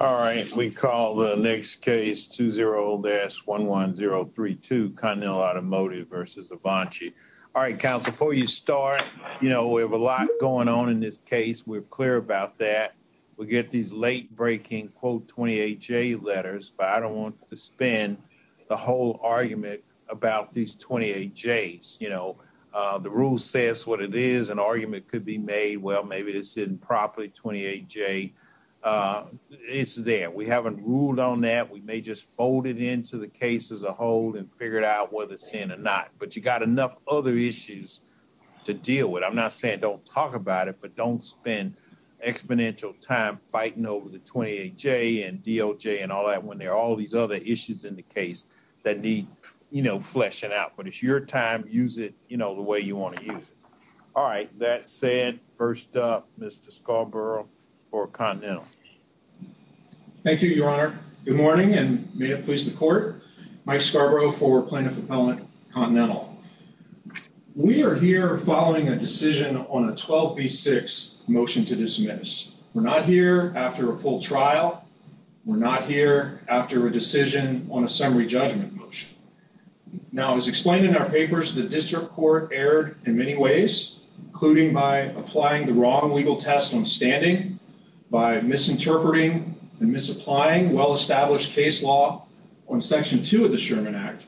All right, we call the next case 20-11032, Continental Automotive v. Avanci. All right, counsel, before you start, you know, we have a lot going on in this case. We're clear about that. We get these late-breaking quote 28J letters, but I don't want to spend the whole argument about these 28Js. You know, the rules say it's what it is. An argument could be made, well, maybe this isn't properly 28J. It's there. We haven't ruled on that. We may just fold it into the case as a whole and figure it out whether it's in or not. But you got enough other issues to deal with. I'm not saying don't talk about it, but don't spend exponential time fighting over the 28J and DOJ and all that when there are all these other issues in the case that need, you know, fleshing out. But it's your time. Use it, you know, the way you want to use it. All right. That said, first up, Mr. Scarborough for Continental. Thank you, Your Honor. Good morning, and may it please the Court. Mike Scarborough for Plaintiff Appellant Continental. We are here following a decision on a 12B6 motion to dismiss. We're not here after a full trial. We're not here after a decision on a summary judgment motion. Now, as explained in our papers, the district court erred in many ways, including by applying the wrong legal test on standing, by misinterpreting and misapplying well-established case law on Section 2 of the Sherman Act.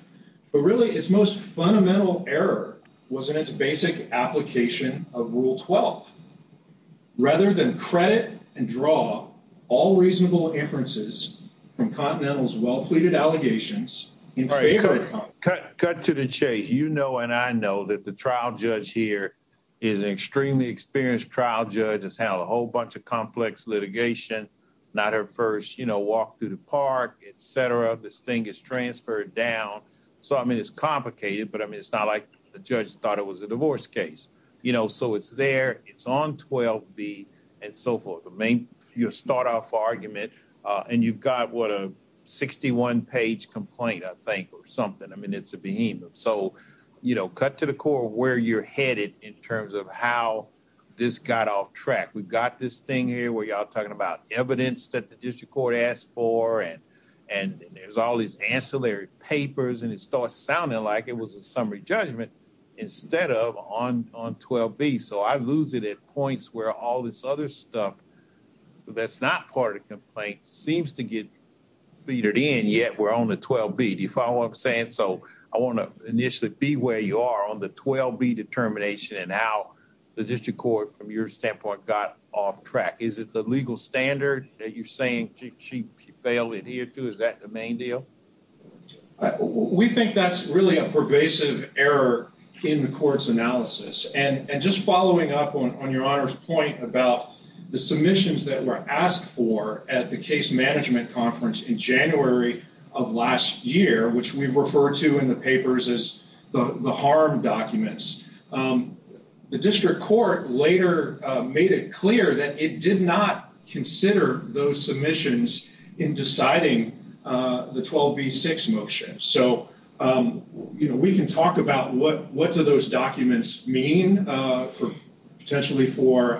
But really, its most fundamental error was in its basic application of Rule 12. Rather than credit and draw all reasonable inferences from Continental's well-pleaded allegations in favor of Continental. Cut to the chase. You know and I know that the trial judge here is an extremely experienced trial judge, has handled a whole bunch of complex litigation. Not her first, you know, walk through the park, etc. This thing is transferred down. So, I mean, it's complicated, but I mean, it's not like the judge thought it was a divorce case. You know, so it's there, it's on 12B, and so forth. The main, your start-off argument, and you've got what a 61-page complaint, I think, or something. I mean, it's a behemoth. So, you know, cut to the core of where you're headed in terms of how this got off track. We've got this thing here where y'all talking about evidence that the district court asked for, and there's all these ancillary papers, and it starts sounding like it was a summary judgment instead of on 12B. So, I lose it at points where all this other stuff that's not part of the complaint seems to get beat it in, yet we're on the 12B. Do you follow what I'm saying? So, I want to initially be where you are on the 12B determination, and how the district court, from your standpoint, got off track. Is it the legal standard that you're saying she failed it here too? Is that the your honor's point about the submissions that were asked for at the case management conference in January of last year, which we've referred to in the papers as the harm documents? The district court later made it clear that it did not consider those submissions in deciding the 12B6 motion. So, you know, we can talk about what do those documents mean for potentially for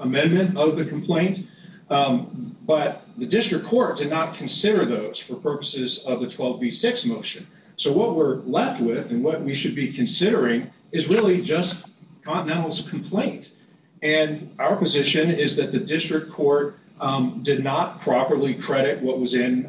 amendment of the complaint, but the district court did not consider those for purposes of the 12B6 motion. So, what we're left with and what we should be considering is really just Continental's complaint, and our position is that the district court did not properly credit what was in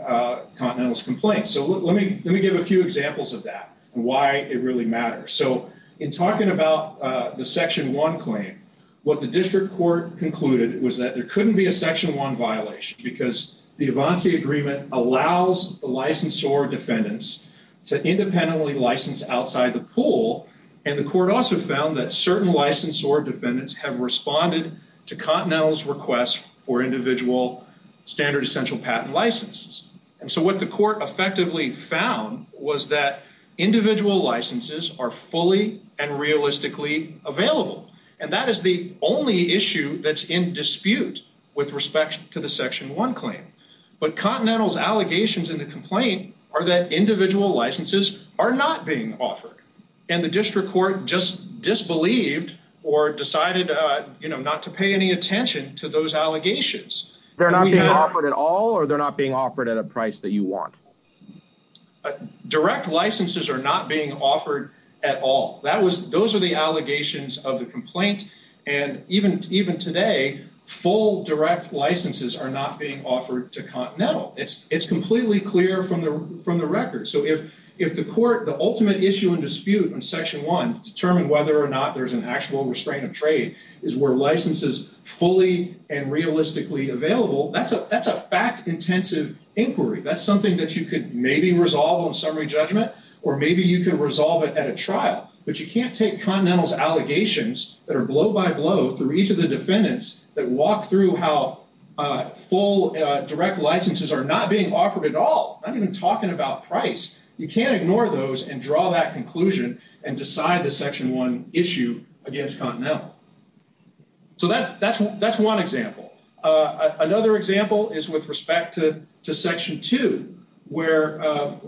Continental's complaint. So, I'll give you a few examples of that and why it really matters. So, in talking about the section one claim, what the district court concluded was that there couldn't be a section one violation because the Avanci agreement allows the licensee or defendants to independently license outside the pool, and the court also found that certain licensee or defendants have responded to Continental's request for individual standard essential patent licenses. And so, what the court effectively found was that individual licenses are fully and realistically available, and that is the only issue that's in dispute with respect to the section one claim. But Continental's allegations in the complaint are that individual licenses are not being offered, and the district court just disbelieved or decided, you know, not to pay any attention to those allegations. They're not being offered at all, or they're not being offered at a price that you want? Direct licenses are not being offered at all. Those are the allegations of the complaint, and even today, full direct licenses are not being offered to Continental. It's completely clear from the record. So, if the court, the ultimate issue in dispute in section one to determine whether or not there's an actual restraint of trade is where license is fully and realistically available, that's a fact-intensive inquiry. That's something that you could maybe resolve on summary judgment, or maybe you could resolve it at a trial, but you can't take Continental's allegations that are blow by blow through each of the defendants that walk through how full direct licenses are not being offered at all, not even talking about price. You can't ignore those and draw that conclusion and decide the section one issue against Continental. So, that's one example. Another example is with respect to section two, where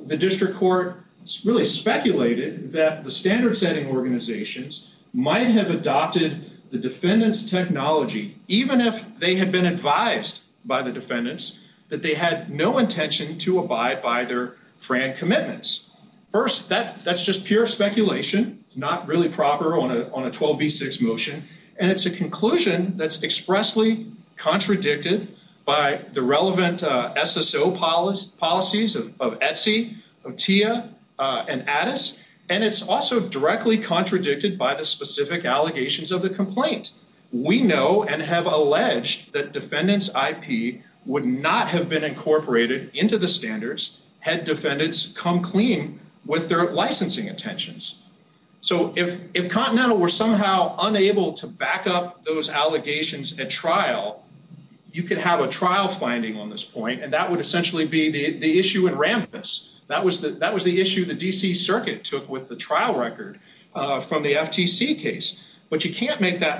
the district court really speculated that the standard-setting organizations might have adopted the defendant's technology, even if they had been advised by the defendants that they had no intention to abide by their FRAN commitments. First, that's just pure speculation, not really proper on a 12b6 motion, and it's a conclusion that's expressly contradicted by the relevant SSO policies of Etsy, of TIA, and Addis, and it's also directly contradicted by the specific allegations of the complaint. We know and have alleged that defendant's IP would not have been incorporated into the standards had defendants come clean with their licensing intentions. So, if Continental were somehow unable to back up those allegations at trial, you could have a trial finding on this point, and that would essentially be the issue in Rambis. That was the issue the DC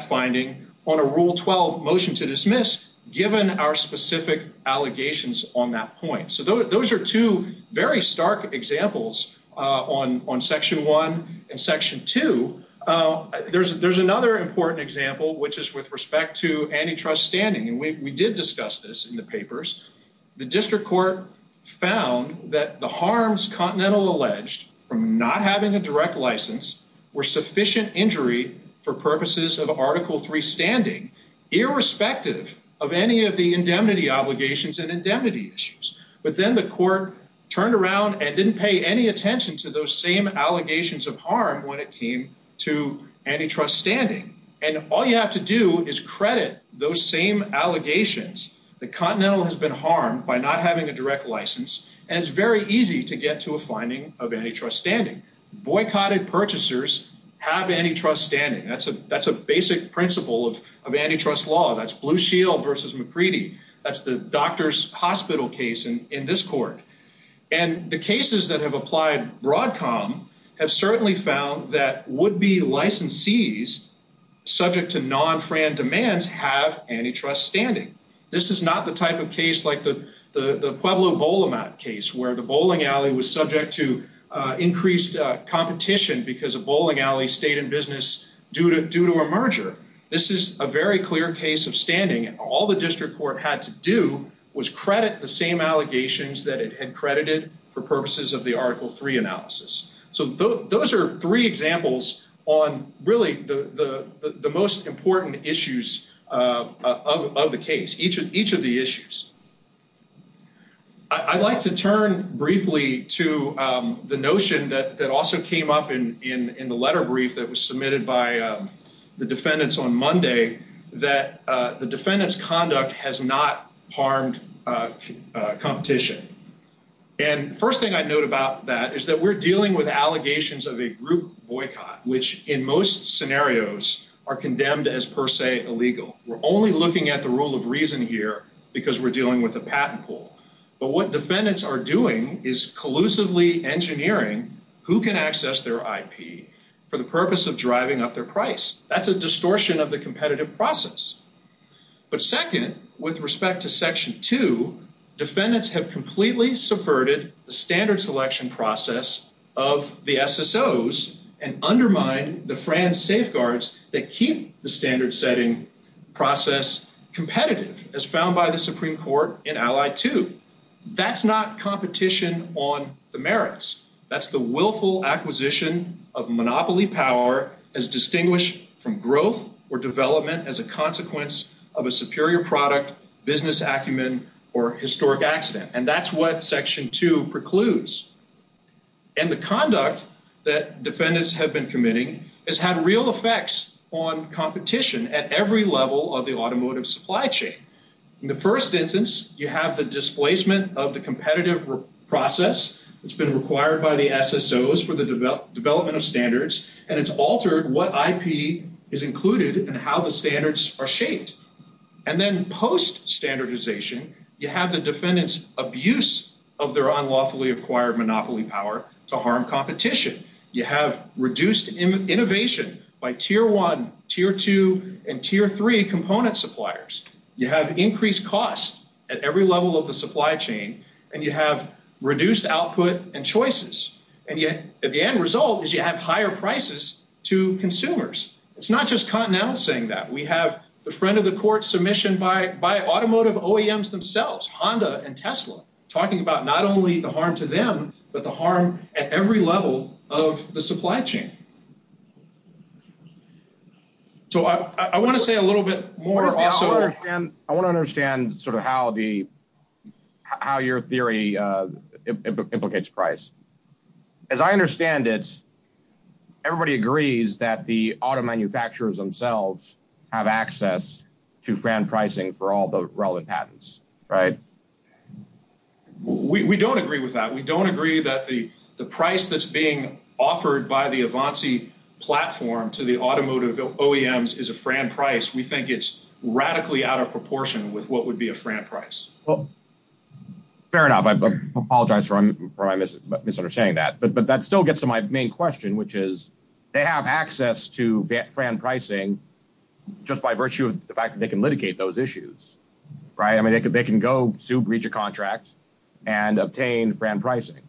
finding on a rule 12 motion to dismiss, given our specific allegations on that point. So, those are two very stark examples on section one and section two. There's another important example, which is with respect to antitrust standing, and we did discuss this in the papers. The district court found that the harms Continental alleged from not having a direct license were sufficient injury for purposes of article three standing, irrespective of any of the indemnity obligations and indemnity issues, but then the court turned around and didn't pay any attention to those same allegations of harm when it came to antitrust standing, and all you have to do is credit those same allegations that Continental has been harmed by not having a direct license, and it's very easy to get to a finding of antitrust standing. Boycotted purchasers have antitrust standing. That's a basic principle of antitrust law. That's Blue Shield versus McCready. That's the doctor's hospital case in this court, and the cases that have applied Broadcom have certainly found that would-be licensees, subject to non-Fran demands, have antitrust standing. This is not the type of the Pueblo bowl amount case where the bowling alley was subject to increased competition because a bowling alley stayed in business due to a merger. This is a very clear case of standing. All the district court had to do was credit the same allegations that it had credited for purposes of the article three analysis, so those are three examples on really the most important issues of the case, each of the issues. I'd like to turn briefly to the notion that also came up in the letter brief that was submitted by the defendants on Monday that the defendant's conduct has not harmed competition, and first thing I'd note about that is that we're dealing with allegations of a group boycott, which in most scenarios are condemned as per se illegal. We're only looking at the rule of reason here because we're dealing with a patent pool, but what defendants are doing is collusively engineering who can access their IP for the purpose of driving up their price. That's a distortion of the competitive process, but second, with respect to section two, defendants have completely subverted the SSO's and undermined the FRAN's safeguards that keep the standard setting process competitive, as found by the Supreme Court in ally two. That's not competition on the merits. That's the willful acquisition of monopoly power as distinguished from growth or development as a consequence of a superior product, business acumen, or historic accident, and that's what section two precludes. And the conduct that defendants have been committing has had real effects on competition at every level of the automotive supply chain. In the first instance, you have the displacement of the competitive process that's been required by the SSO's for the development of standards, and it's altered what IP is included and how the standards are shaped, and then post-standardization you have the defendants' abuse of their unlawfully acquired monopoly power to harm competition. You have reduced innovation by tier one, tier two, and tier three component suppliers. You have increased costs at every level of the supply chain, and you have reduced output and choices, and yet the end result is you have higher prices to consumers. It's not just Continental saying that. We have the friend of the court submission by automotive OEMs themselves, Honda and Tesla, talking about not only the harm to them, but the harm at every level of the supply chain. So I want to say a little bit more. I want to understand how your theory implicates price. As I understand it, everybody agrees that the auto manufacturers themselves have access to Fran pricing for all the relevant patents, right? We don't agree with that. We don't agree that the price that's being offered by the Avanci platform to the automotive OEMs is a Fran price. We think it's radically out of proportion with what would be a Fran price. Well, fair enough. I apologize for my misunderstanding that, but that still gets to my main question, which is they have access to Fran pricing just by virtue of the fact that they can litigate those issues, right? I mean, they can go sue, breach a contract, and obtain Fran pricing.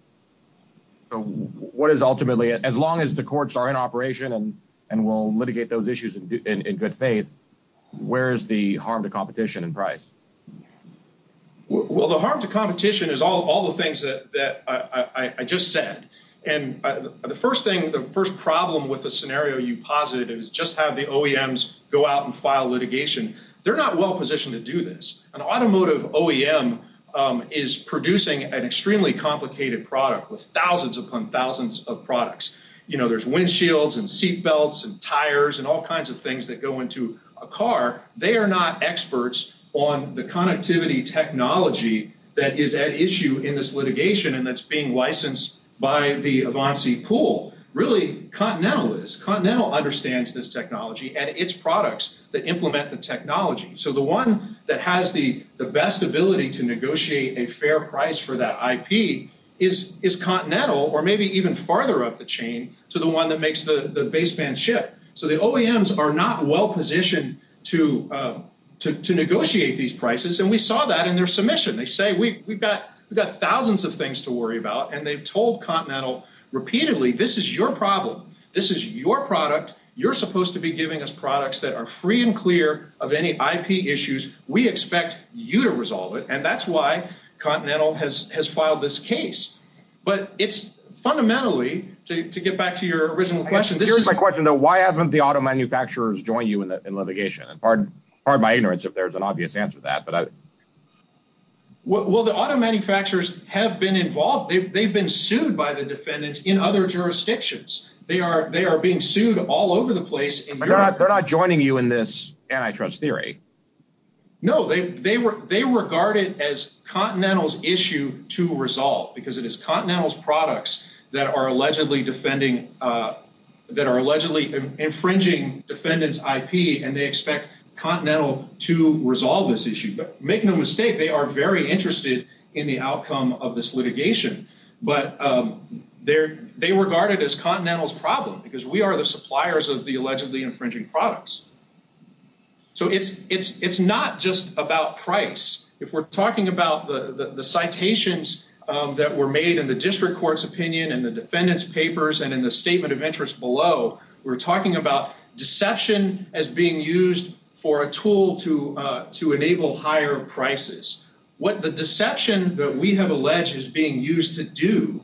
So what is ultimately, as long as the courts are in operation and will litigate those issues in good faith, where is the harm to competition in price? Well, the harm to competition is all the things that I just said. And the first thing, the first problem with the scenario you posited is just have the OEMs go out and file litigation. They're not well positioned to do this. An automotive OEM is producing an extremely complicated product with thousands upon thousands of products. You know, there's windshields and seat belts and tires and all kinds of things that go into a car. They are not experts on the connectivity technology that is at issue in this litigation, and that's being licensed by the Avanci pool. Really, Continental is. Continental understands this technology and its products that implement the technology. So the one that has the best ability to negotiate a fair price for that IP is Continental, or maybe even farther up the chain to the one that makes the baseband ship. So the OEMs are not well positioned to negotiate these issues. And they've told Continental repeatedly, this is your problem. This is your product. You're supposed to be giving us products that are free and clear of any IP issues. We expect you to resolve it. And that's why Continental has filed this case. But it's fundamentally, to get back to your original question. Here's my question, though. Why haven't the auto manufacturers joined you in litigation? And pardon my ignorance if there's an obvious answer to that. Well, the auto manufacturers have been involved. They've been sued by the defendants in other jurisdictions. They are being sued all over the place. They're not joining you in this anti-trust theory. No, they regard it as Continental's issue to resolve, because it is Continental's products that are allegedly infringing defendant's IP, and they expect Continental to resolve this issue. But make no mistake, they are very interested in the outcome of this litigation. But they regard it as Continental's problem, because we are the suppliers of the allegedly infringing products. So it's not just about price. If we're talking about the citations that were made in the district court's opinion and the defendant's papers and in the statement of interest below, we're talking about deception as being used for a tool to enable higher prices. What the deception that we have alleged is being used to do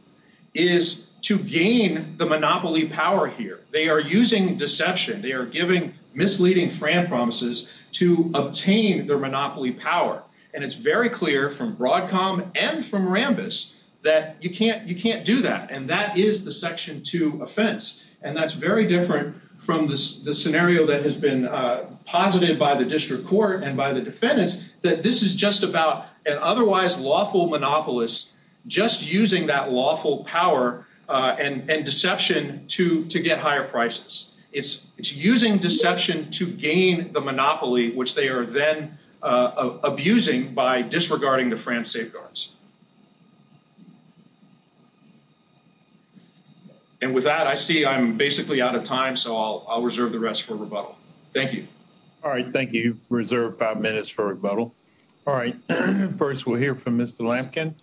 is to gain the monopoly power here. They are using deception. They are giving misleading Fran promises to obtain their monopoly power. And it's very clear from Broadcom and from Rambis that you can't do that. And that is the Section 2 offense. And that's very different from the scenario that has been posited by the district court and by the defendants, that this is just about an otherwise lawful monopolist just using that lawful power and deception to get higher prices. It's using deception to gain the monopoly, which they are then abusing by disregarding the safeguards. And with that, I see I'm basically out of time, so I'll reserve the rest for rebuttal. Thank you. All right. Thank you. Reserved five minutes for rebuttal. All right. First, we'll hear from Mr. Lampkin.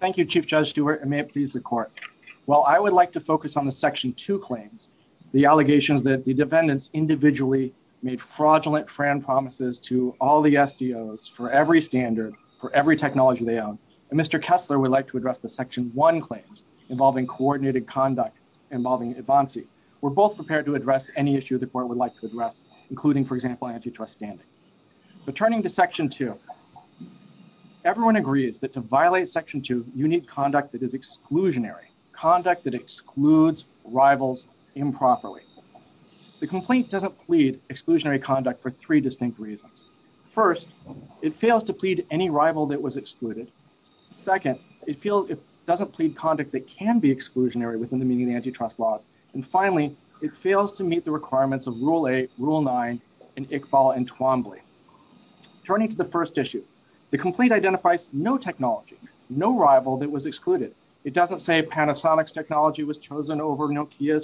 Thank you, Chief Judge Stewart, and may it please the court. While I would like to focus on the Section 2 claims, the allegations that the defendants individually made fraudulent Fran promises to all the SDOs for every standard, for every technology they own, and Mr. Kessler would like to address the Section 1 claims involving coordinated conduct involving Advanci, we're both prepared to address any issue the court would like to address, including, for example, antitrust standing. But turning to Section 2, everyone agrees that to violate Section 2, you need conduct that is exclusionary, conduct that excludes rivals improperly. The complaint doesn't plead exclusionary conduct for three distinct reasons. First, it fails to plead any rival that was excluded. Second, it feels it doesn't plead conduct that can be exclusionary within the meaning of antitrust laws. And finally, it fails to meet the requirements of Rule 8, Rule 9, and Iqbal and Twombly. Turning to the first issue, the complaint identifies no technology, no rival that was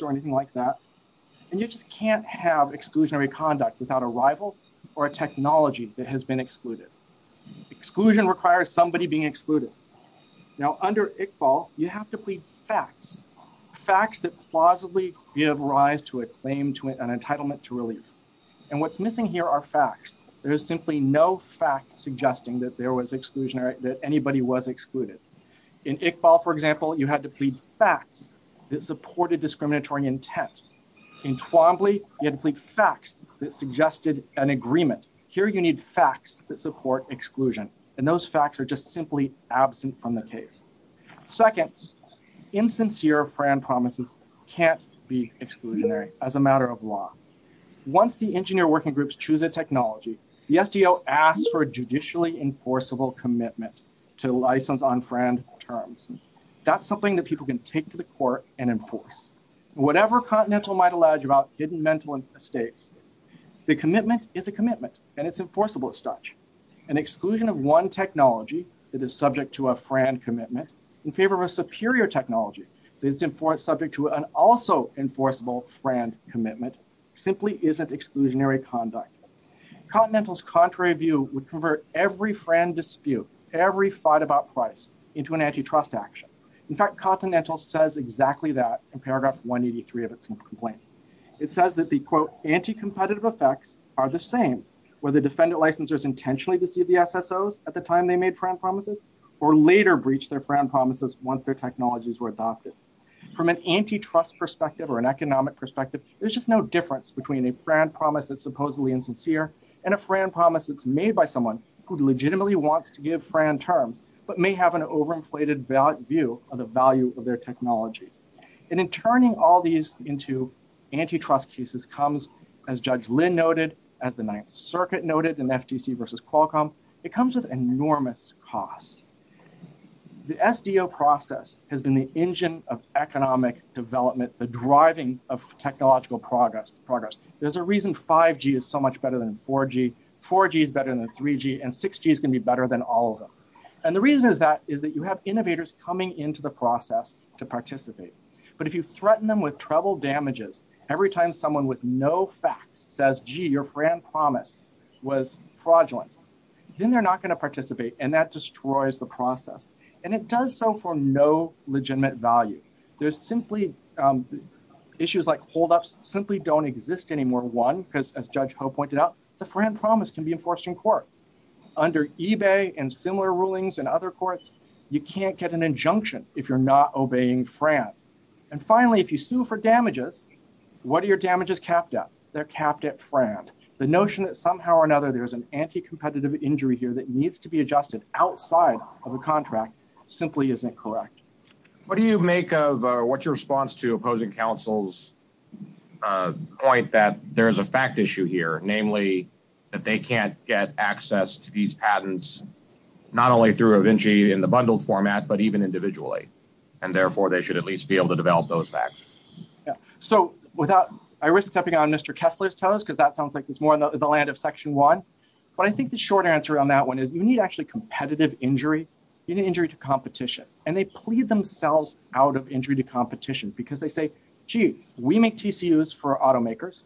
or anything like that. And you just can't have exclusionary conduct without a rival or a technology that has been excluded. Exclusion requires somebody being excluded. Now, under Iqbal, you have to plead facts, facts that plausibly give rise to a claim to an entitlement to relief. And what's missing here are facts. There is simply no fact suggesting that there was exclusionary, that anybody was excluded. In Iqbal, for example, you had to plead facts that supported discriminatory intent. In Twombly, you had to plead facts that suggested an agreement. Here, you need facts that support exclusion. And those facts are just simply absent from the case. Second, insincere friend promises can't be exclusionary as a matter of law. Once the engineer working groups choose a technology, the SDO asks for a judicially enforceable commitment to license on friend terms. That's something that people can take to the court and enforce. Whatever Continental might allege about hidden mental mistakes, the commitment is a commitment and it's enforceable as such. An exclusion of one technology that is subject to a friend commitment in favor of a superior technology that is subject to an also enforceable friend commitment simply isn't exclusionary conduct. Continental's contrary view would convert every fight about price into an antitrust action. In fact, Continental says exactly that in paragraph 183 of its complaint. It says that the quote, anti-competitive effects are the same, where the defendant licensors intentionally deceived the SSOs at the time they made friend promises or later breached their friend promises once their technologies were adopted. From an antitrust perspective or an economic perspective, there's just no difference between a friend promise that's supposedly insincere and a friend promise that's made by someone who legitimately wants to give friend terms, but may have an overinflated view of the value of their technology. And in turning all these into antitrust cases comes, as Judge Lynn noted, as the Ninth Circuit noted in FTC versus Qualcomm, it comes with enormous costs. The SDO process has been the engine of economic development, the driving of technological progress. There's a reason 5G is so much better than 4G, 4G is better than 3G, and 6G is going to be better than all of them. And the reason is that you have innovators coming into the process to participate. But if you threaten them with treble damages, every time someone with no facts says, gee, your friend promise was fraudulent, then they're not going to participate and that destroys the process. And it does so for no legitimate value. There's simply issues like simply don't exist anymore. One, because as Judge Ho pointed out, the friend promise can be enforced in court. Under eBay and similar rulings and other courts, you can't get an injunction if you're not obeying friend. And finally, if you sue for damages, what are your damages capped at? They're capped at friend. The notion that somehow or another there's an anti-competitive injury here that needs to be adjusted outside of a contract simply isn't correct. What do you make of, what's your response to opposing counsel's point that there is a fact issue here, namely, that they can't get access to these patents, not only through Avinci in the bundled format, but even individually. And therefore, they should at least be able to develop those facts. Yeah. So without, I risk stepping on Mr. Kessler's toes, because that sounds like it's more in the land of Section 1. But I think the short answer on that one is you need actually competitive injury, you need injury to competition. And they plead themselves out of injury to competition because they say, gee, we make TCUs for automakers.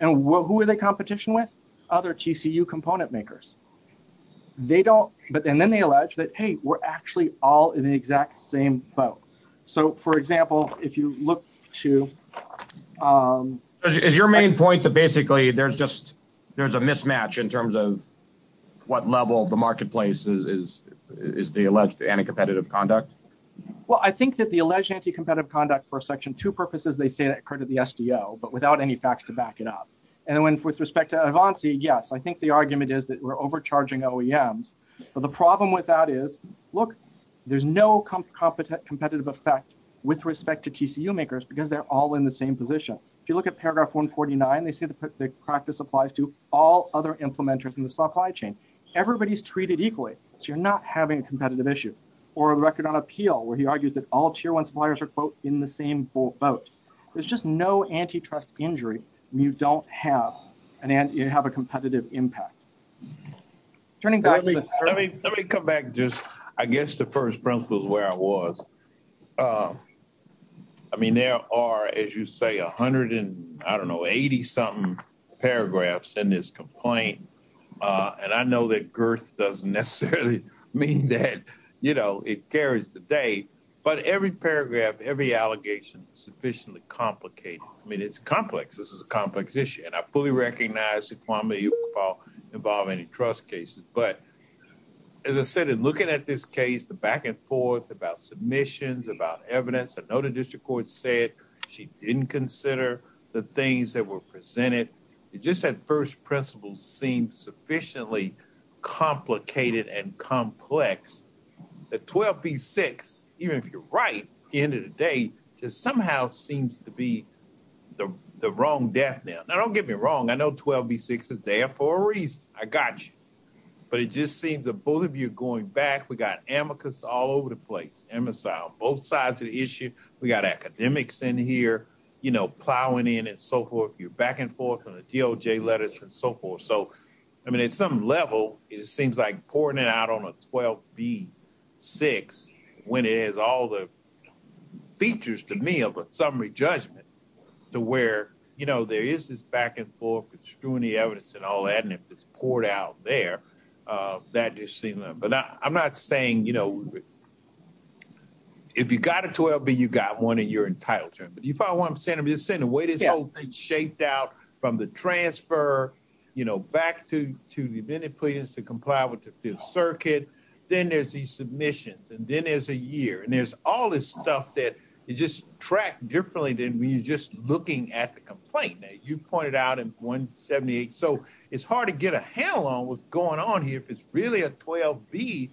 And who are they competition with? Other TCU component makers. They don't. But then they allege that, hey, we're actually all in the exact same boat. So, for example, if you look to. Is your main point that basically there's just there's a mismatch in terms of what level of the marketplace is the alleged anti-competitive conduct? Well, I think that the alleged anti-competitive conduct for Section 2 purposes, they say that occurred at the SDO, but without any facts to back it up. And with respect to Avinci, yes, I think the argument is that we're overcharging OEMs. But the problem with that is, look, there's no competitive effect with respect to TCU makers because they're all in the same position. If you look at paragraph 149, the practice applies to all other implementers in the supply chain. Everybody's treated equally. So you're not having a competitive issue or a record on appeal where he argues that all tier one suppliers are, quote, in the same boat. There's just no antitrust injury. You don't have and you have a competitive impact. Turning back. Let me come back. Just I guess the first was where I was. I mean, there are, as you say, a hundred and I don't know, 80 something paragraphs in this complaint. And I know that girth doesn't necessarily mean that, you know, it carries the day. But every paragraph, every allegation, sufficiently complicated. I mean, it's complex. This is a complex issue. And I fully recognize it will involve antitrust cases. But as I said, in looking at this case, the back and forth about submissions, about evidence, I know the district court said she didn't consider the things that were presented. It just had first principles seem sufficiently complicated and complex. The 12B6, even if you're right, at the end of the day, just somehow seems to be the wrong death. Now, don't get me wrong. I know 12B6 is there for a reason. I got you. But it just seems to both of you going back, we got amicus all over the place. MSI on both sides of the issue. We got academics in here, you know, plowing in and so forth. You're back and forth on the DOJ letters and so forth. So, I mean, at some level, it seems like pouring it out on a 12B6 when it has all the features, to me, of a summary judgment to where, you know, there is this back and forth. It's doing the evidence and all that. And if it's poured out there, that just seems, but I'm not saying, you know, if you got a 12B, you got one in your entire term. But if I want, I'm saying, I'm just saying the way this whole thing's shaped out from the transfer, you know, back to the amended pleadings to comply with the Fifth Circuit, then there's these submissions and then there's a year and there's all this stuff that you just track differently than when you're just looking at the complaint that you pointed out in 178. So, it's hard to get a handle on what's going on here if it's really a 12B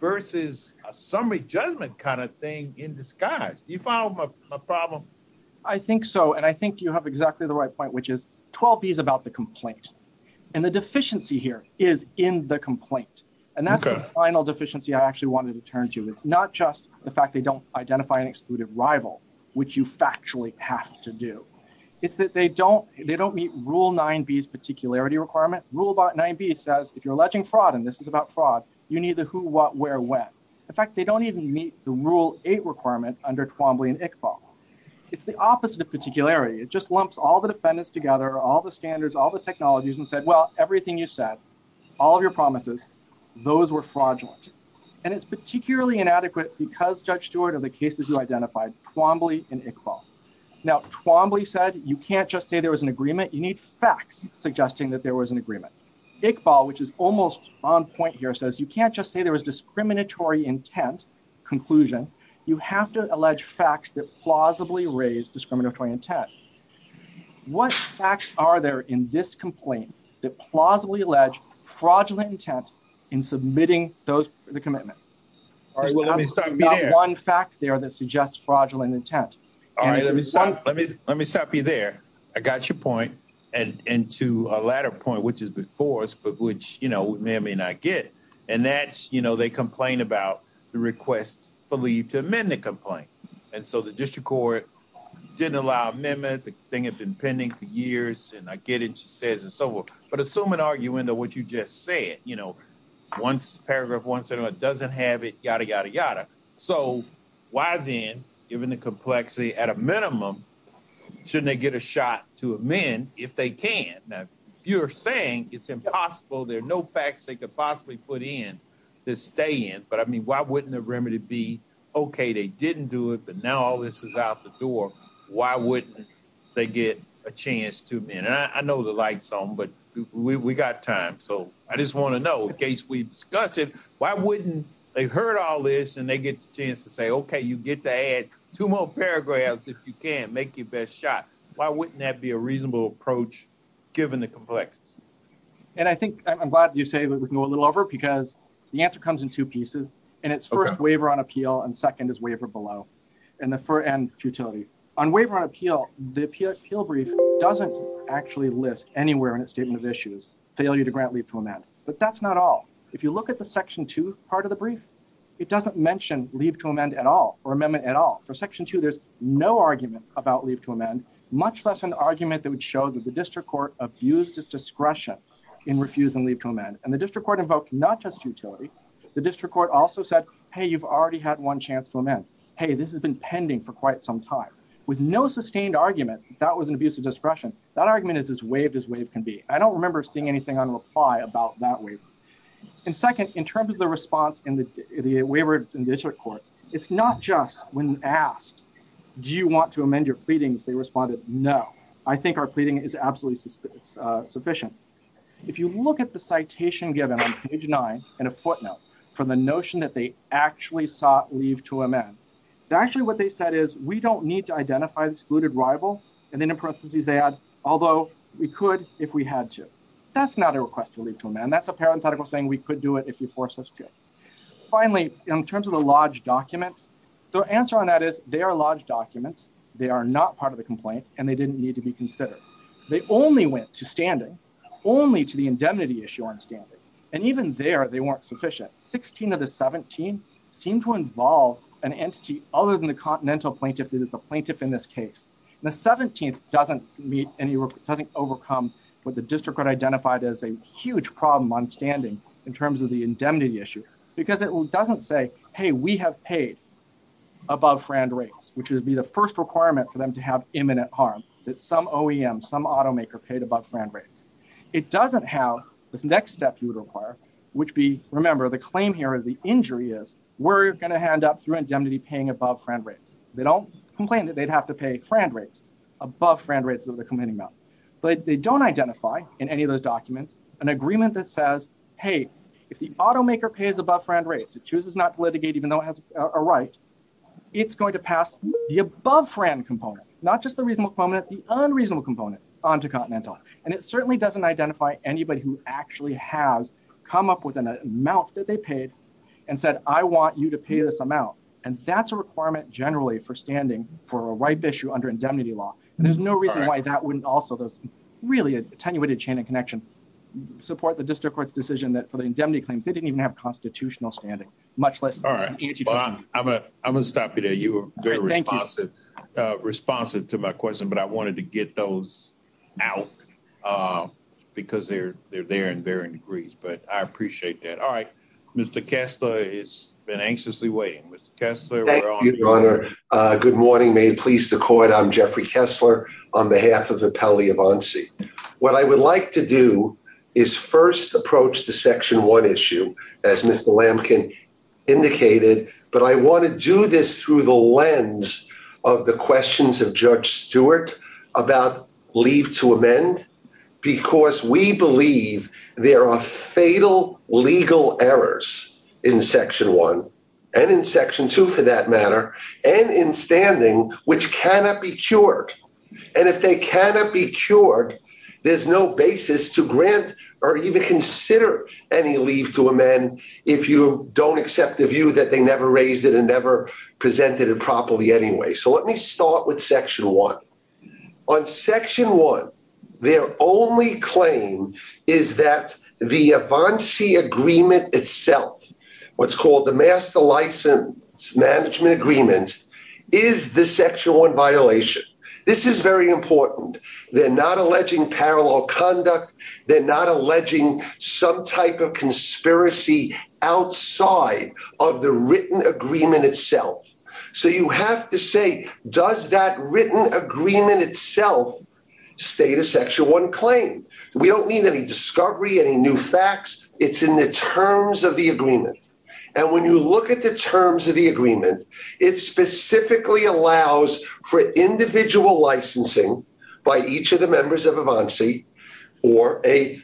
versus a summary judgment kind of thing in disguise. Do you follow my problem? I think so. And I think you have exactly the right point, which is 12B is about the complaint. And the deficiency here is in the complaint. And that's the final deficiency I actually wanted to turn to. It's not just the fact they don't identify an excluded rival, which you factually have to do. It's that they don't meet Rule 9B's particularity requirement. Rule 9B says, if you're alleging fraud, and this is about fraud, you need the who, what, where, when. In fact, they don't even meet the Rule 8 requirement under Twombly and Iqbal. It's the opposite of particularity. It just lumps all the defendants together, all the standards, all the technologies, and said, well, everything you said, all of your promises, those were fraudulent. And it's particularly inadequate because, Judge Stewart, of the cases you identified, Twombly and Iqbal. Now, Twombly said you can't just say there was an agreement. You need facts suggesting that there was an agreement. Iqbal, which is almost on point here, says you can't just say there was discriminatory intent, conclusion. You have to allege facts that that plausibly allege fraudulent intent in submitting those, the commitments. All right, well, let me stop you there. Not one fact there that suggests fraudulent intent. All right, let me stop you there. I got your point. And to a latter point, which is before us, but which, you know, may or may not get. And that's, you know, they complain about the request for leave to amend the complaint. And so the district court didn't allow amendment, the thing had been pending for years. And I get it, she says, and so forth. But assume an argument of what you just said. You know, once, paragraph one, doesn't have it, yada, yada, yada. So why then, given the complexity, at a minimum, shouldn't they get a shot to amend if they can? Now, if you're saying it's impossible, there are no facts they could possibly put in to stay in. But I mean, why wouldn't the remedy be, okay, they didn't do it, but now all this is out the door, why wouldn't they get a chance to amend? And I know the light's on, but we got time. So I just want to know, in case we discuss it, why wouldn't they heard all this and they get the chance to say, okay, you get to add two more paragraphs if you can, make your best shot. Why wouldn't that be a reasonable approach, given the complexity? And I think, I'm glad you say that we can go a little over, because the answer comes in two and the futility. On waiver on appeal, the appeal brief doesn't actually list anywhere in its statement of issues, failure to grant leave to amend. But that's not all. If you look at the section two part of the brief, it doesn't mention leave to amend at all, or amendment at all. For section two, there's no argument about leave to amend, much less an argument that would show that the district court abused its discretion in refusing leave to amend. And the district court invoked not utility. The district court also said, hey, you've already had one chance to amend. Hey, this has been pending for quite some time. With no sustained argument, that was an abuse of discretion. That argument is as waived as waive can be. I don't remember seeing anything on reply about that waiver. And second, in terms of the response and the waiver in district court, it's not just when asked, do you want to amend your pleadings? They responded, no. I think our given on page nine and a footnote for the notion that they actually sought leave to amend. Actually, what they said is, we don't need to identify excluded rival. And then in parentheses, they add, although we could if we had to. That's not a request to leave to amend. That's a parenthetical saying we could do it if you force us to. Finally, in terms of the lodge documents, their answer on that is they are lodged documents. They are not part of the complaint, and they didn't need to be considered. They only went to standing only to the indemnity issue on standing. And even there, they weren't sufficient. 16 of the 17 seem to involve an entity other than the continental plaintiff that is the plaintiff in this case. And the 17th doesn't overcome what the district identified as a huge problem on standing in terms of the indemnity issue. Because it doesn't say, hey, we have paid above friend rates, which would be the first requirement for them to have imminent harm, that some OEM, some automaker paid above friend rates. It doesn't have this next step you would require, which would be, remember, the claim here is the injury is we're going to hand up through indemnity paying above friend rates. They don't complain that they'd have to pay friend rates, above friend rates is what they're complaining about. But they don't identify in any of those documents an agreement that says, hey, if the automaker pays above friend rates, it chooses not to litigate even though it has a right, it's going to pass the above friend component, not just the reasonable component, the unreasonable component onto continental. And it certainly doesn't identify anybody who actually has come up with an amount that they paid, and said, I want you to pay this amount. And that's a requirement generally for standing for a ripe issue under indemnity law. And there's no reason why that wouldn't also those really attenuated chain of connection, support the district court's decision that for the indemnity claims, they didn't even have constitutional standing, much less. All right. I'm gonna, I'm gonna stop you there. You were very responsive, responsive to my question, but I wanted to get those out because they're, they're there in varying degrees, but I appreciate that. All right. Mr. Kessler has been anxiously waiting. Mr. Kessler. Thank you, your honor. Good morning. May it please the court. I'm Jeffrey Kessler on behalf of the appellee of ANSI. What I would like to do is first approach to section one issue as Mr. Lamkin indicated, but I want to do this through the lens of the questions of judge Stewart about leave to amend, because we believe there are fatal legal errors in section one and in section two for that matter, and in standing, which cannot be cured. And if they cannot be cured, there's no basis to grant or even consider any leave to amend if you don't accept the view that they never raised it and never presented it properly anyway. So let me start with section one. On section one, their only claim is that the ANSI agreement itself, what's called the master license management agreement, is the section one violation. This is very important. They're alleging parallel conduct. They're not alleging some type of conspiracy outside of the written agreement itself. So you have to say, does that written agreement itself state a section one claim? We don't need any discovery, any new facts. It's in the terms of the agreement. And when you look at the terms of the agreement, it specifically allows for individual licensing by each of the members of ANSI or a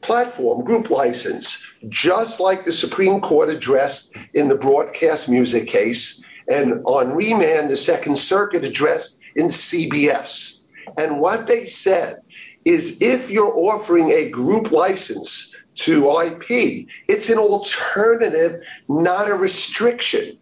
platform group license, just like the Supreme Court addressed in the broadcast music case and on remand, the second circuit addressed in CBS. And what they said is if you're offering a group license to IP, it's an alternative, not a restriction,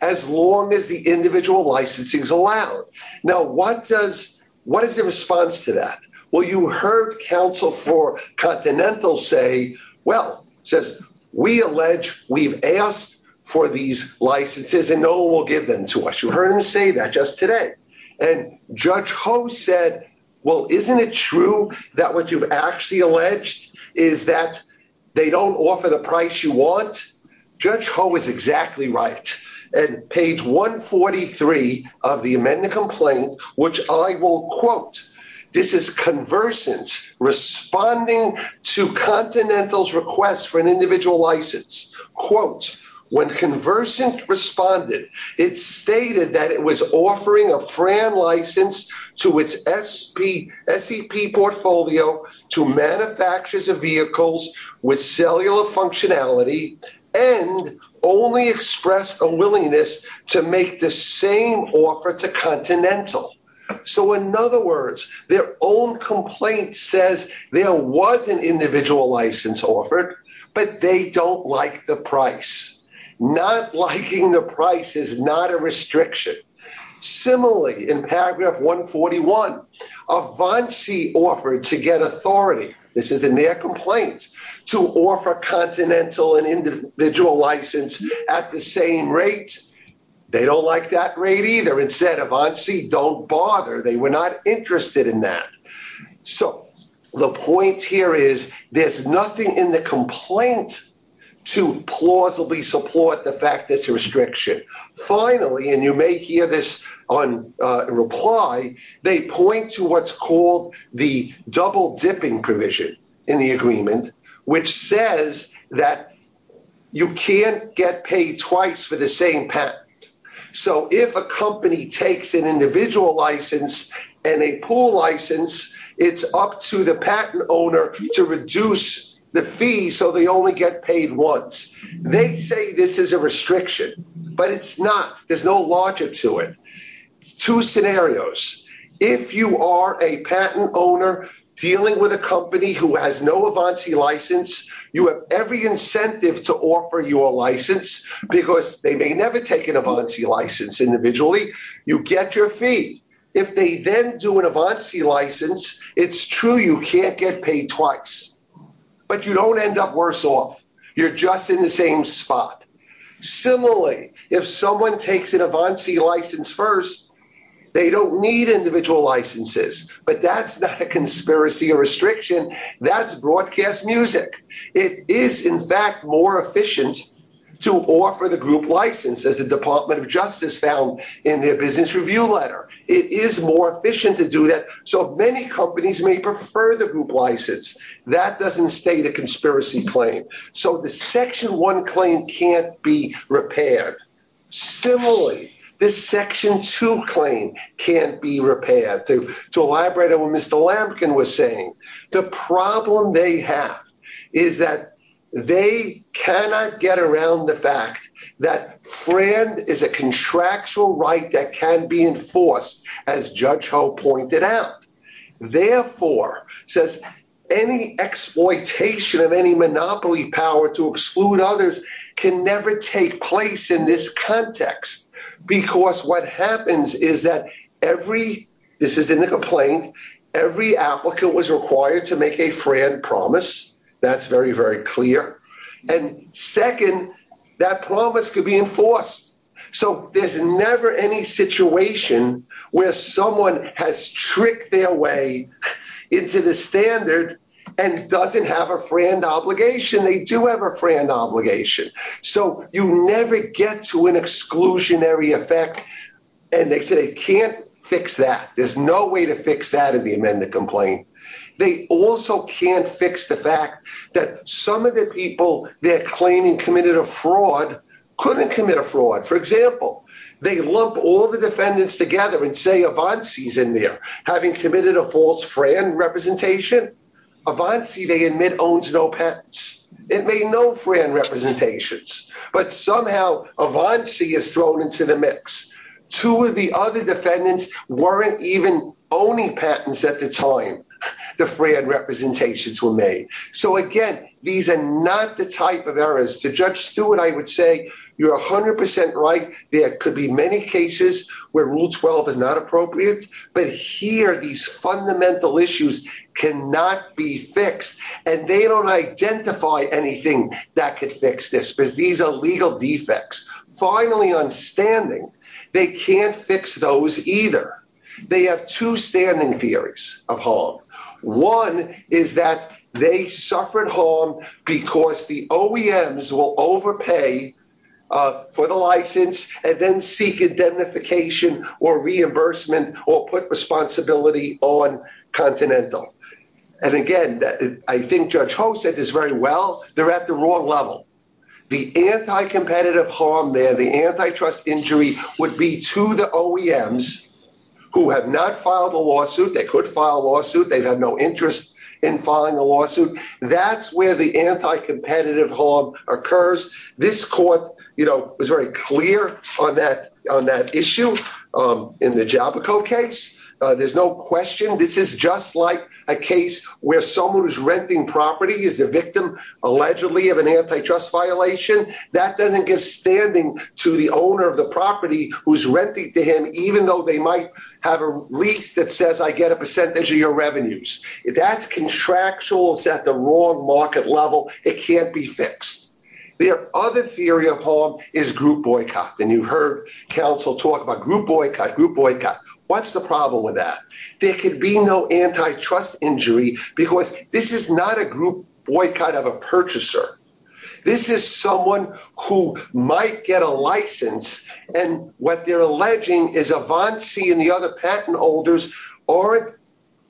as long as the individual licensing is allowed. Now, what does what is the response to that? Well, you heard counsel for Continental say, well, says we allege we've asked for these licenses and no one will give them to us. You heard him say that just today. And Judge Ho said, well, isn't it true that what you've actually alleged is that they don't offer the price you want? Judge Ho is exactly right. And page 143 of the amendment complaint, which I will quote, this is conversant responding to Continental's request for an individual license. Quote, when conversant responded, it stated that it was offering a FRAN license to its SEP portfolio to manufacturers of cellular functionality and only expressed a willingness to make the same offer to Continental. So, in other words, their own complaint says there was an individual license offered, but they don't like the price. Not liking the price is not a restriction. Similarly, in paragraph four, for Continental, an individual license at the same rate, they don't like that rate either. Instead, Avanci, don't bother. They were not interested in that. So, the point here is there's nothing in the complaint to plausibly support the fact that it's a restriction. Finally, and you may hear this on reply, they point to what's called the double dipping provision in the agreement, which says that you can't get paid twice for the same patent. So, if a company takes an individual license and a pool license, it's up to the patent owner to reduce the fee so they only get paid once. They say this is a restriction, but it's not. There's no larger to it. Two scenarios. If you are a patent owner dealing with a company who has no Avanci license, you have every incentive to offer your license because they may never take an Avanci license individually. You get your fee. If they then do an Avanci license, it's true you can't get paid twice, but you don't end up worse off. You're just in the same spot. Similarly, if someone takes an Avanci license first, they don't need individual licenses, but that's not a conspiracy or restriction. That's broadcast music. It is, in fact, more efficient to offer the group license, as the Department of Justice found in their business review letter. It is more efficient to do that. So, many companies may prefer the group license. That doesn't state a repair. Similarly, this Section 2 claim can't be repaired. To elaborate on what Mr. Lampkin was saying, the problem they have is that they cannot get around the fact that FRAND is a contractual right that can be enforced, as Judge Ho pointed out. Therefore, any exploitation of monopoly power to exclude others can never take place in this context. What happens is that this is in the complaint. Every applicant was required to make a FRAND promise. That's very, very clear. Second, that promise could be enforced. So, there's never any situation where someone has tricked their way into the standard and doesn't have a FRAND obligation. They do have a FRAND obligation. So, you never get to an exclusionary effect, and they say they can't fix that. There's no way to fix that in the amended complaint. They also can't fix the fact that some of the people they're claiming committed a fraud couldn't commit a fraud. For example, they lump all the defendants together and say Avanci's in there, having committed a false FRAND representation. Avanci, they admit, owns no patents. It made no FRAND representations. But somehow, Avanci is thrown into the mix. Two of the other defendants weren't even owning patents at the time the FRAND representations were made. So, again, these are not the type of errors. To Judge Stewart, I would say you're 100% right. There could be many cases where Rule 12 is not appropriate. But here, these fundamental issues cannot be fixed, and they don't identify anything that could fix this because these are legal defects. Finally, on standing, they can't fix those either. They have two standing theories of harm. One is that they suffered harm because the OEMs will overpay for the license and then seek indemnification or reimbursement or put responsibility on Continental. And again, I think Judge Ho said this very well. They're at the wrong level. The anti-competitive harm there, antitrust injury, would be to the OEMs who have not filed a lawsuit. They could file a lawsuit. They have no interest in filing a lawsuit. That's where the anti-competitive harm occurs. This court was very clear on that issue in the Javico case. There's no question this is just like a case where someone who's renting property is the victim, allegedly, of an antitrust violation. That doesn't give standing to the owner of the property who's renting to him, even though they might have a lease that says, I get a percentage of your revenues. If that's contractual, it's at the wrong market level. It can't be fixed. Their other theory of harm is group boycott. And you've heard counsel talk about group boycott, group boycott. What's the problem with that? There might get a license. And what they're alleging is Avanci and the other patent holders aren't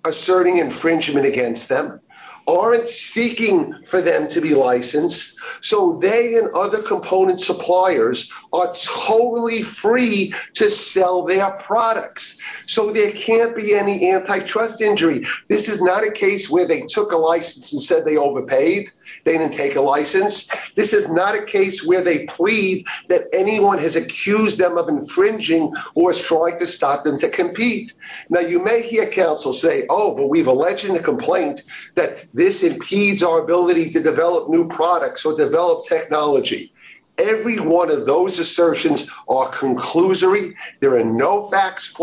asserting infringement against them, aren't seeking for them to be licensed. So they and other component suppliers are totally free to sell their products. So there can't be any antitrust injury. This is not a case where they took a license and said they overpaid. They didn't take a license. This is not a case where they plead that anyone has accused them of infringing or trying to stop them to compete. Now, you may hear counsel say, oh, but we've alleged in the complaint that this impedes our ability to develop new products or develop technology. Every one of those assertions are conclusory. There are no facts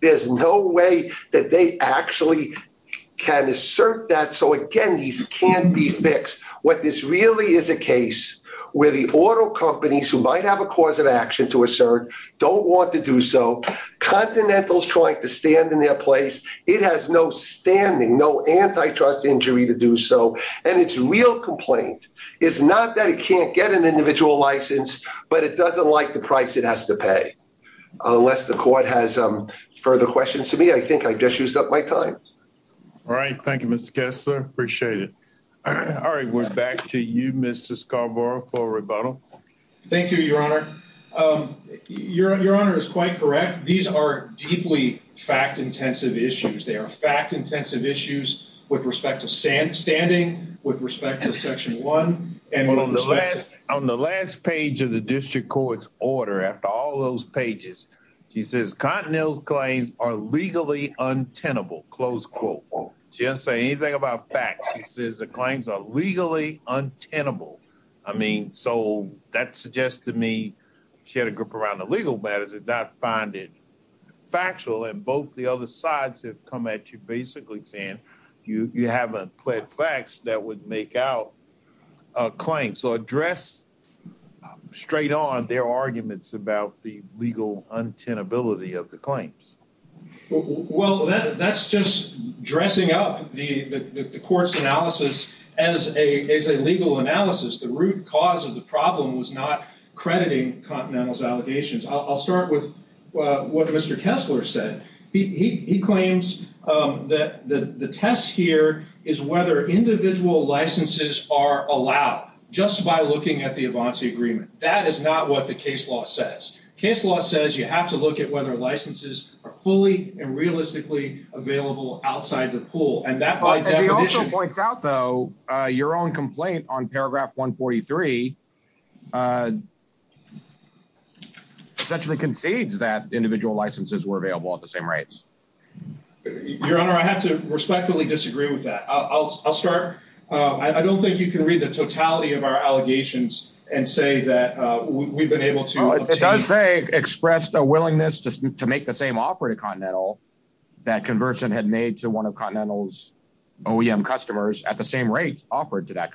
there's no way that they actually can assert that. So, again, these can't be fixed. What this really is a case where the auto companies who might have a cause of action to assert don't want to do so. Continental's trying to stand in their place. It has no standing, no antitrust injury to do so. And its real complaint is not that it can't get an individual license, but it doesn't like the price it has to pay. Unless the court has further questions to me. I think I just used up my time. All right. Thank you, Mr. Kessler. Appreciate it. All right. We're back to you, Mr. Scarborough for rebuttal. Thank you, Your Honor. Your Honor is quite correct. These are deeply fact intensive issues. They are fact intensive issues with respect to standing, with respect to section one. On the last page of the district court's order, after all those pages, she says Continental's claims are legally untenable, close quote. She doesn't say anything about facts. She says the claims are legally untenable. I mean, so that suggests to me she had a group around the legal matters that did not find it factual. And the other sides have come at you basically saying you haven't pled facts that would make out a claim. So address straight on their arguments about the legal untenability of the claims. Well, that's just dressing up the court's analysis as a legal analysis. The root cause of the problem was not crediting Continental's allegations. I'll start with what Mr. Kessler said. He claims that the test here is whether individual licenses are allowed just by looking at the advance agreement. That is not what the case law says. Case law says you have to look at whether licenses are fully and realistically available outside the pool. And that by definition- She also points out, though, your own complaint on paragraph 143 essentially concedes that individual licenses were available at the same rates. Your Honor, I have to respectfully disagree with that. I'll start. I don't think you can read the totality of our allegations and say that we've been able to- Well, it does say expressed a willingness to make the same offer to Continental that Conversant had made to one of Continental's OEM customers at the same rate offered to that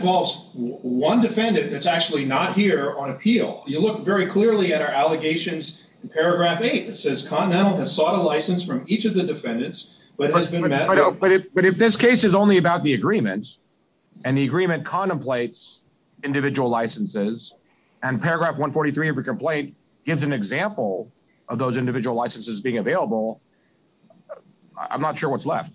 one defendant that's actually not here on appeal. You look very clearly at our allegations in paragraph eight that says Continental has sought a license from each of the defendants, but has been met- But if this case is only about the agreement and the agreement contemplates individual licenses and paragraph 143 of the complaint gives an example of those individual licenses being available, I'm not sure what's left.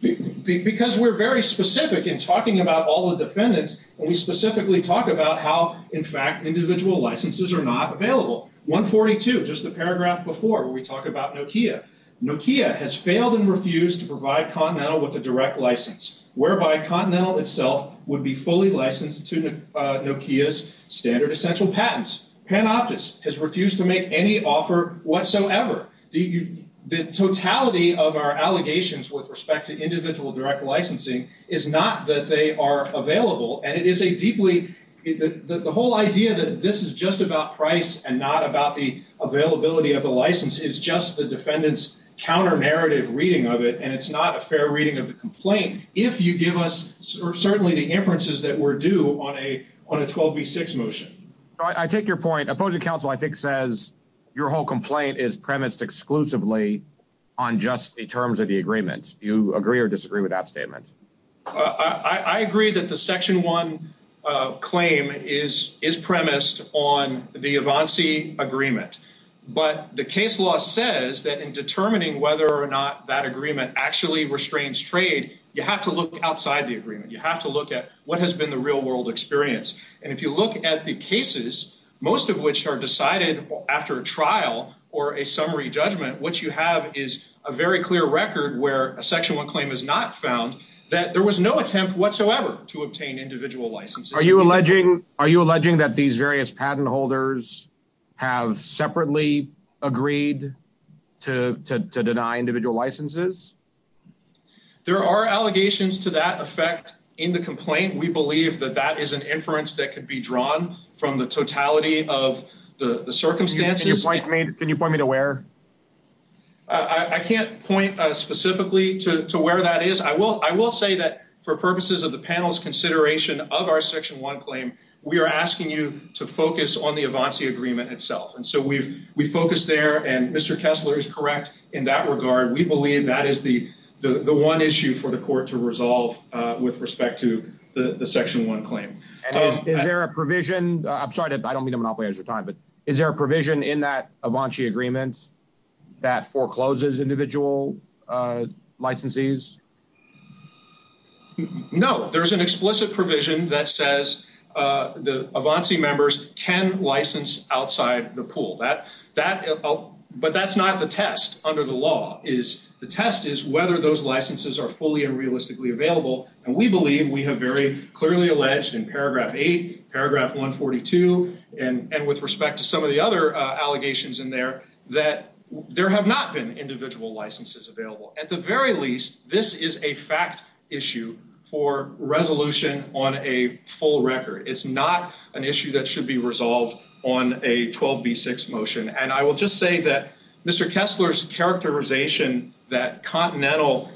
Because we're very specific in talking about all the defendants, and we specifically talk about how, in fact, individual licenses are not available. 142, just the paragraph before where we talk about Nokia. Nokia has failed and refused to provide Continental with a direct license, whereby Continental itself would be fully licensed to Nokia's standard essential patents. Panoptis has refused to make any offer whatsoever. The totality of our allegations with respect to individual direct licensing is not that they are available, and it is a deeply- The whole idea that this is just about price and not about the availability of the license is just the defendant's counter-narrative reading of it, and it's not a fair reading of the complaint if you give us certainly the inferences that were due on a 12b6 motion. I take your point. Opposing counsel, I think, says your whole complaint is premised exclusively on just the terms of the agreement. Do you agree or disagree with that statement? I agree that the Section 1 claim is premised on the Evansi agreement, but the case law says that in determining whether or not that agreement actually restrains trade, you have to look outside the agreement. You have to look at what has been the real-world experience, and if you look at the cases, most of which are decided after a trial or a summary judgment, what you have is a very clear record where a Section 1 claim is not found, that there was no attempt whatsoever to obtain individual licenses. Are you alleging- Are you alleging that these various patent holders have separately agreed to deny individual licenses? There are allegations to that effect in the complaint. We believe that that is an inference that could be drawn from the totality of the circumstances. Can you point me to where? I can't point specifically to where that is. I will say that for purposes of the panel's consideration of our Section 1 claim, we are asking you to focus on the Evansi agreement itself, and so we've focused there, and Mr. Kessler is correct in that regard. We believe that is the one issue for the court to resolve with respect to the Section 1 claim. Is there a provision- I'm sorry, I don't mean to monopolize your time, but is there a provision in that Evansi agreement that forecloses individual licensees? No. There's an explicit provision that says the Evansi members can license outside the pool, but that's not the test under the law. The test is whether those licenses are fully and realistically available, and we believe, we have very clearly alleged in paragraph 8, paragraph 142, and with respect to some of the other allegations in there, that there have not been individual licenses available. At the very least, this is a fact issue for resolution on a full record. It's not an issue that should be resolved on a 12b6 motion, and I will just say that Mr. Kessler's characterization that Continental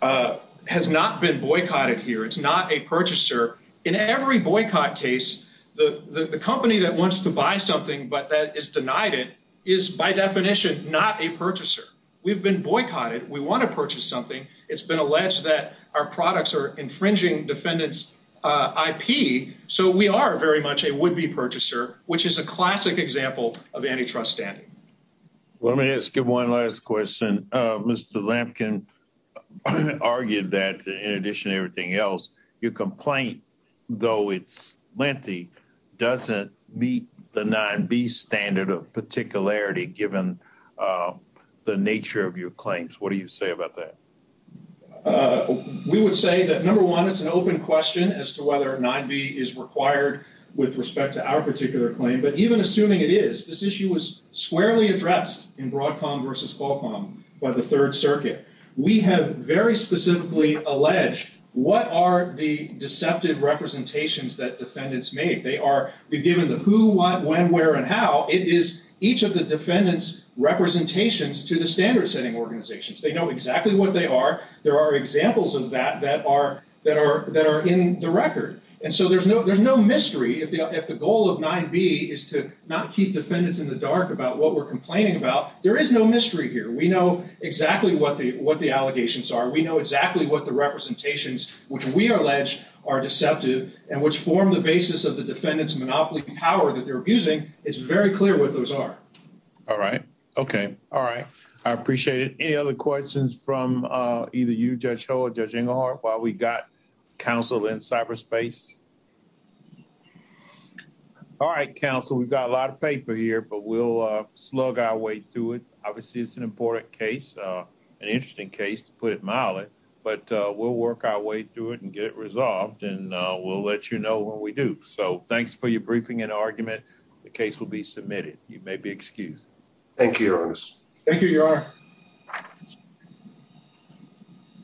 has not been boycotted here. It's not a purchaser. In every boycott case, the company that wants to buy something but that is denied it is by definition not a purchaser. We've been boycotted. We want to purchase something. It's been alleged that our products are infringing defendants' IP, so we are very much a would-be purchaser, which is a classic example of antitrust standing. Let me ask you one last question. Mr. Lampkin argued that, in addition to everything else, your complaint, though it's lengthy, doesn't meet the 9b standard of particularity given the nature of your claims. What do you say about that? We would say that, number one, it's an open question as to whether 9b is required with respect to our particular claim, but even assuming it is, this issue was squarely addressed in Broadcom versus Qualcomm by the Third Circuit. We have very specifically alleged what are the deceptive representations that defendants made. They are given the who, what, when, where, and how. It is each of the defendants' representations to the standard-setting organizations. They know exactly what they are. There are examples of that that are in the record, and so there's no mystery if the goal of 9b is to not keep defendants in the dark about what we're complaining about. There is no mystery here. We know exactly what the allegations are. We know exactly what the representations which we allege are deceptive and which form the basis of the defendant's monopoly power that they're abusing. It's very clear what those are. All right. Okay. All right. I appreciate it. Any other questions from either you, Judge Ho or Judge Englehart, while we've got counsel in cyberspace? All right, counsel. We've got a lot of paper here, but we'll slug our way through it. Obviously, it's an important case, an interesting case, to put it mildly, but we'll work our way through it and get it resolved, and we'll let you know when we do. So, thanks for your briefing and argument. The case will be submitted. You may be excused. Thank you, Your Honor. Thank you, Your Honor.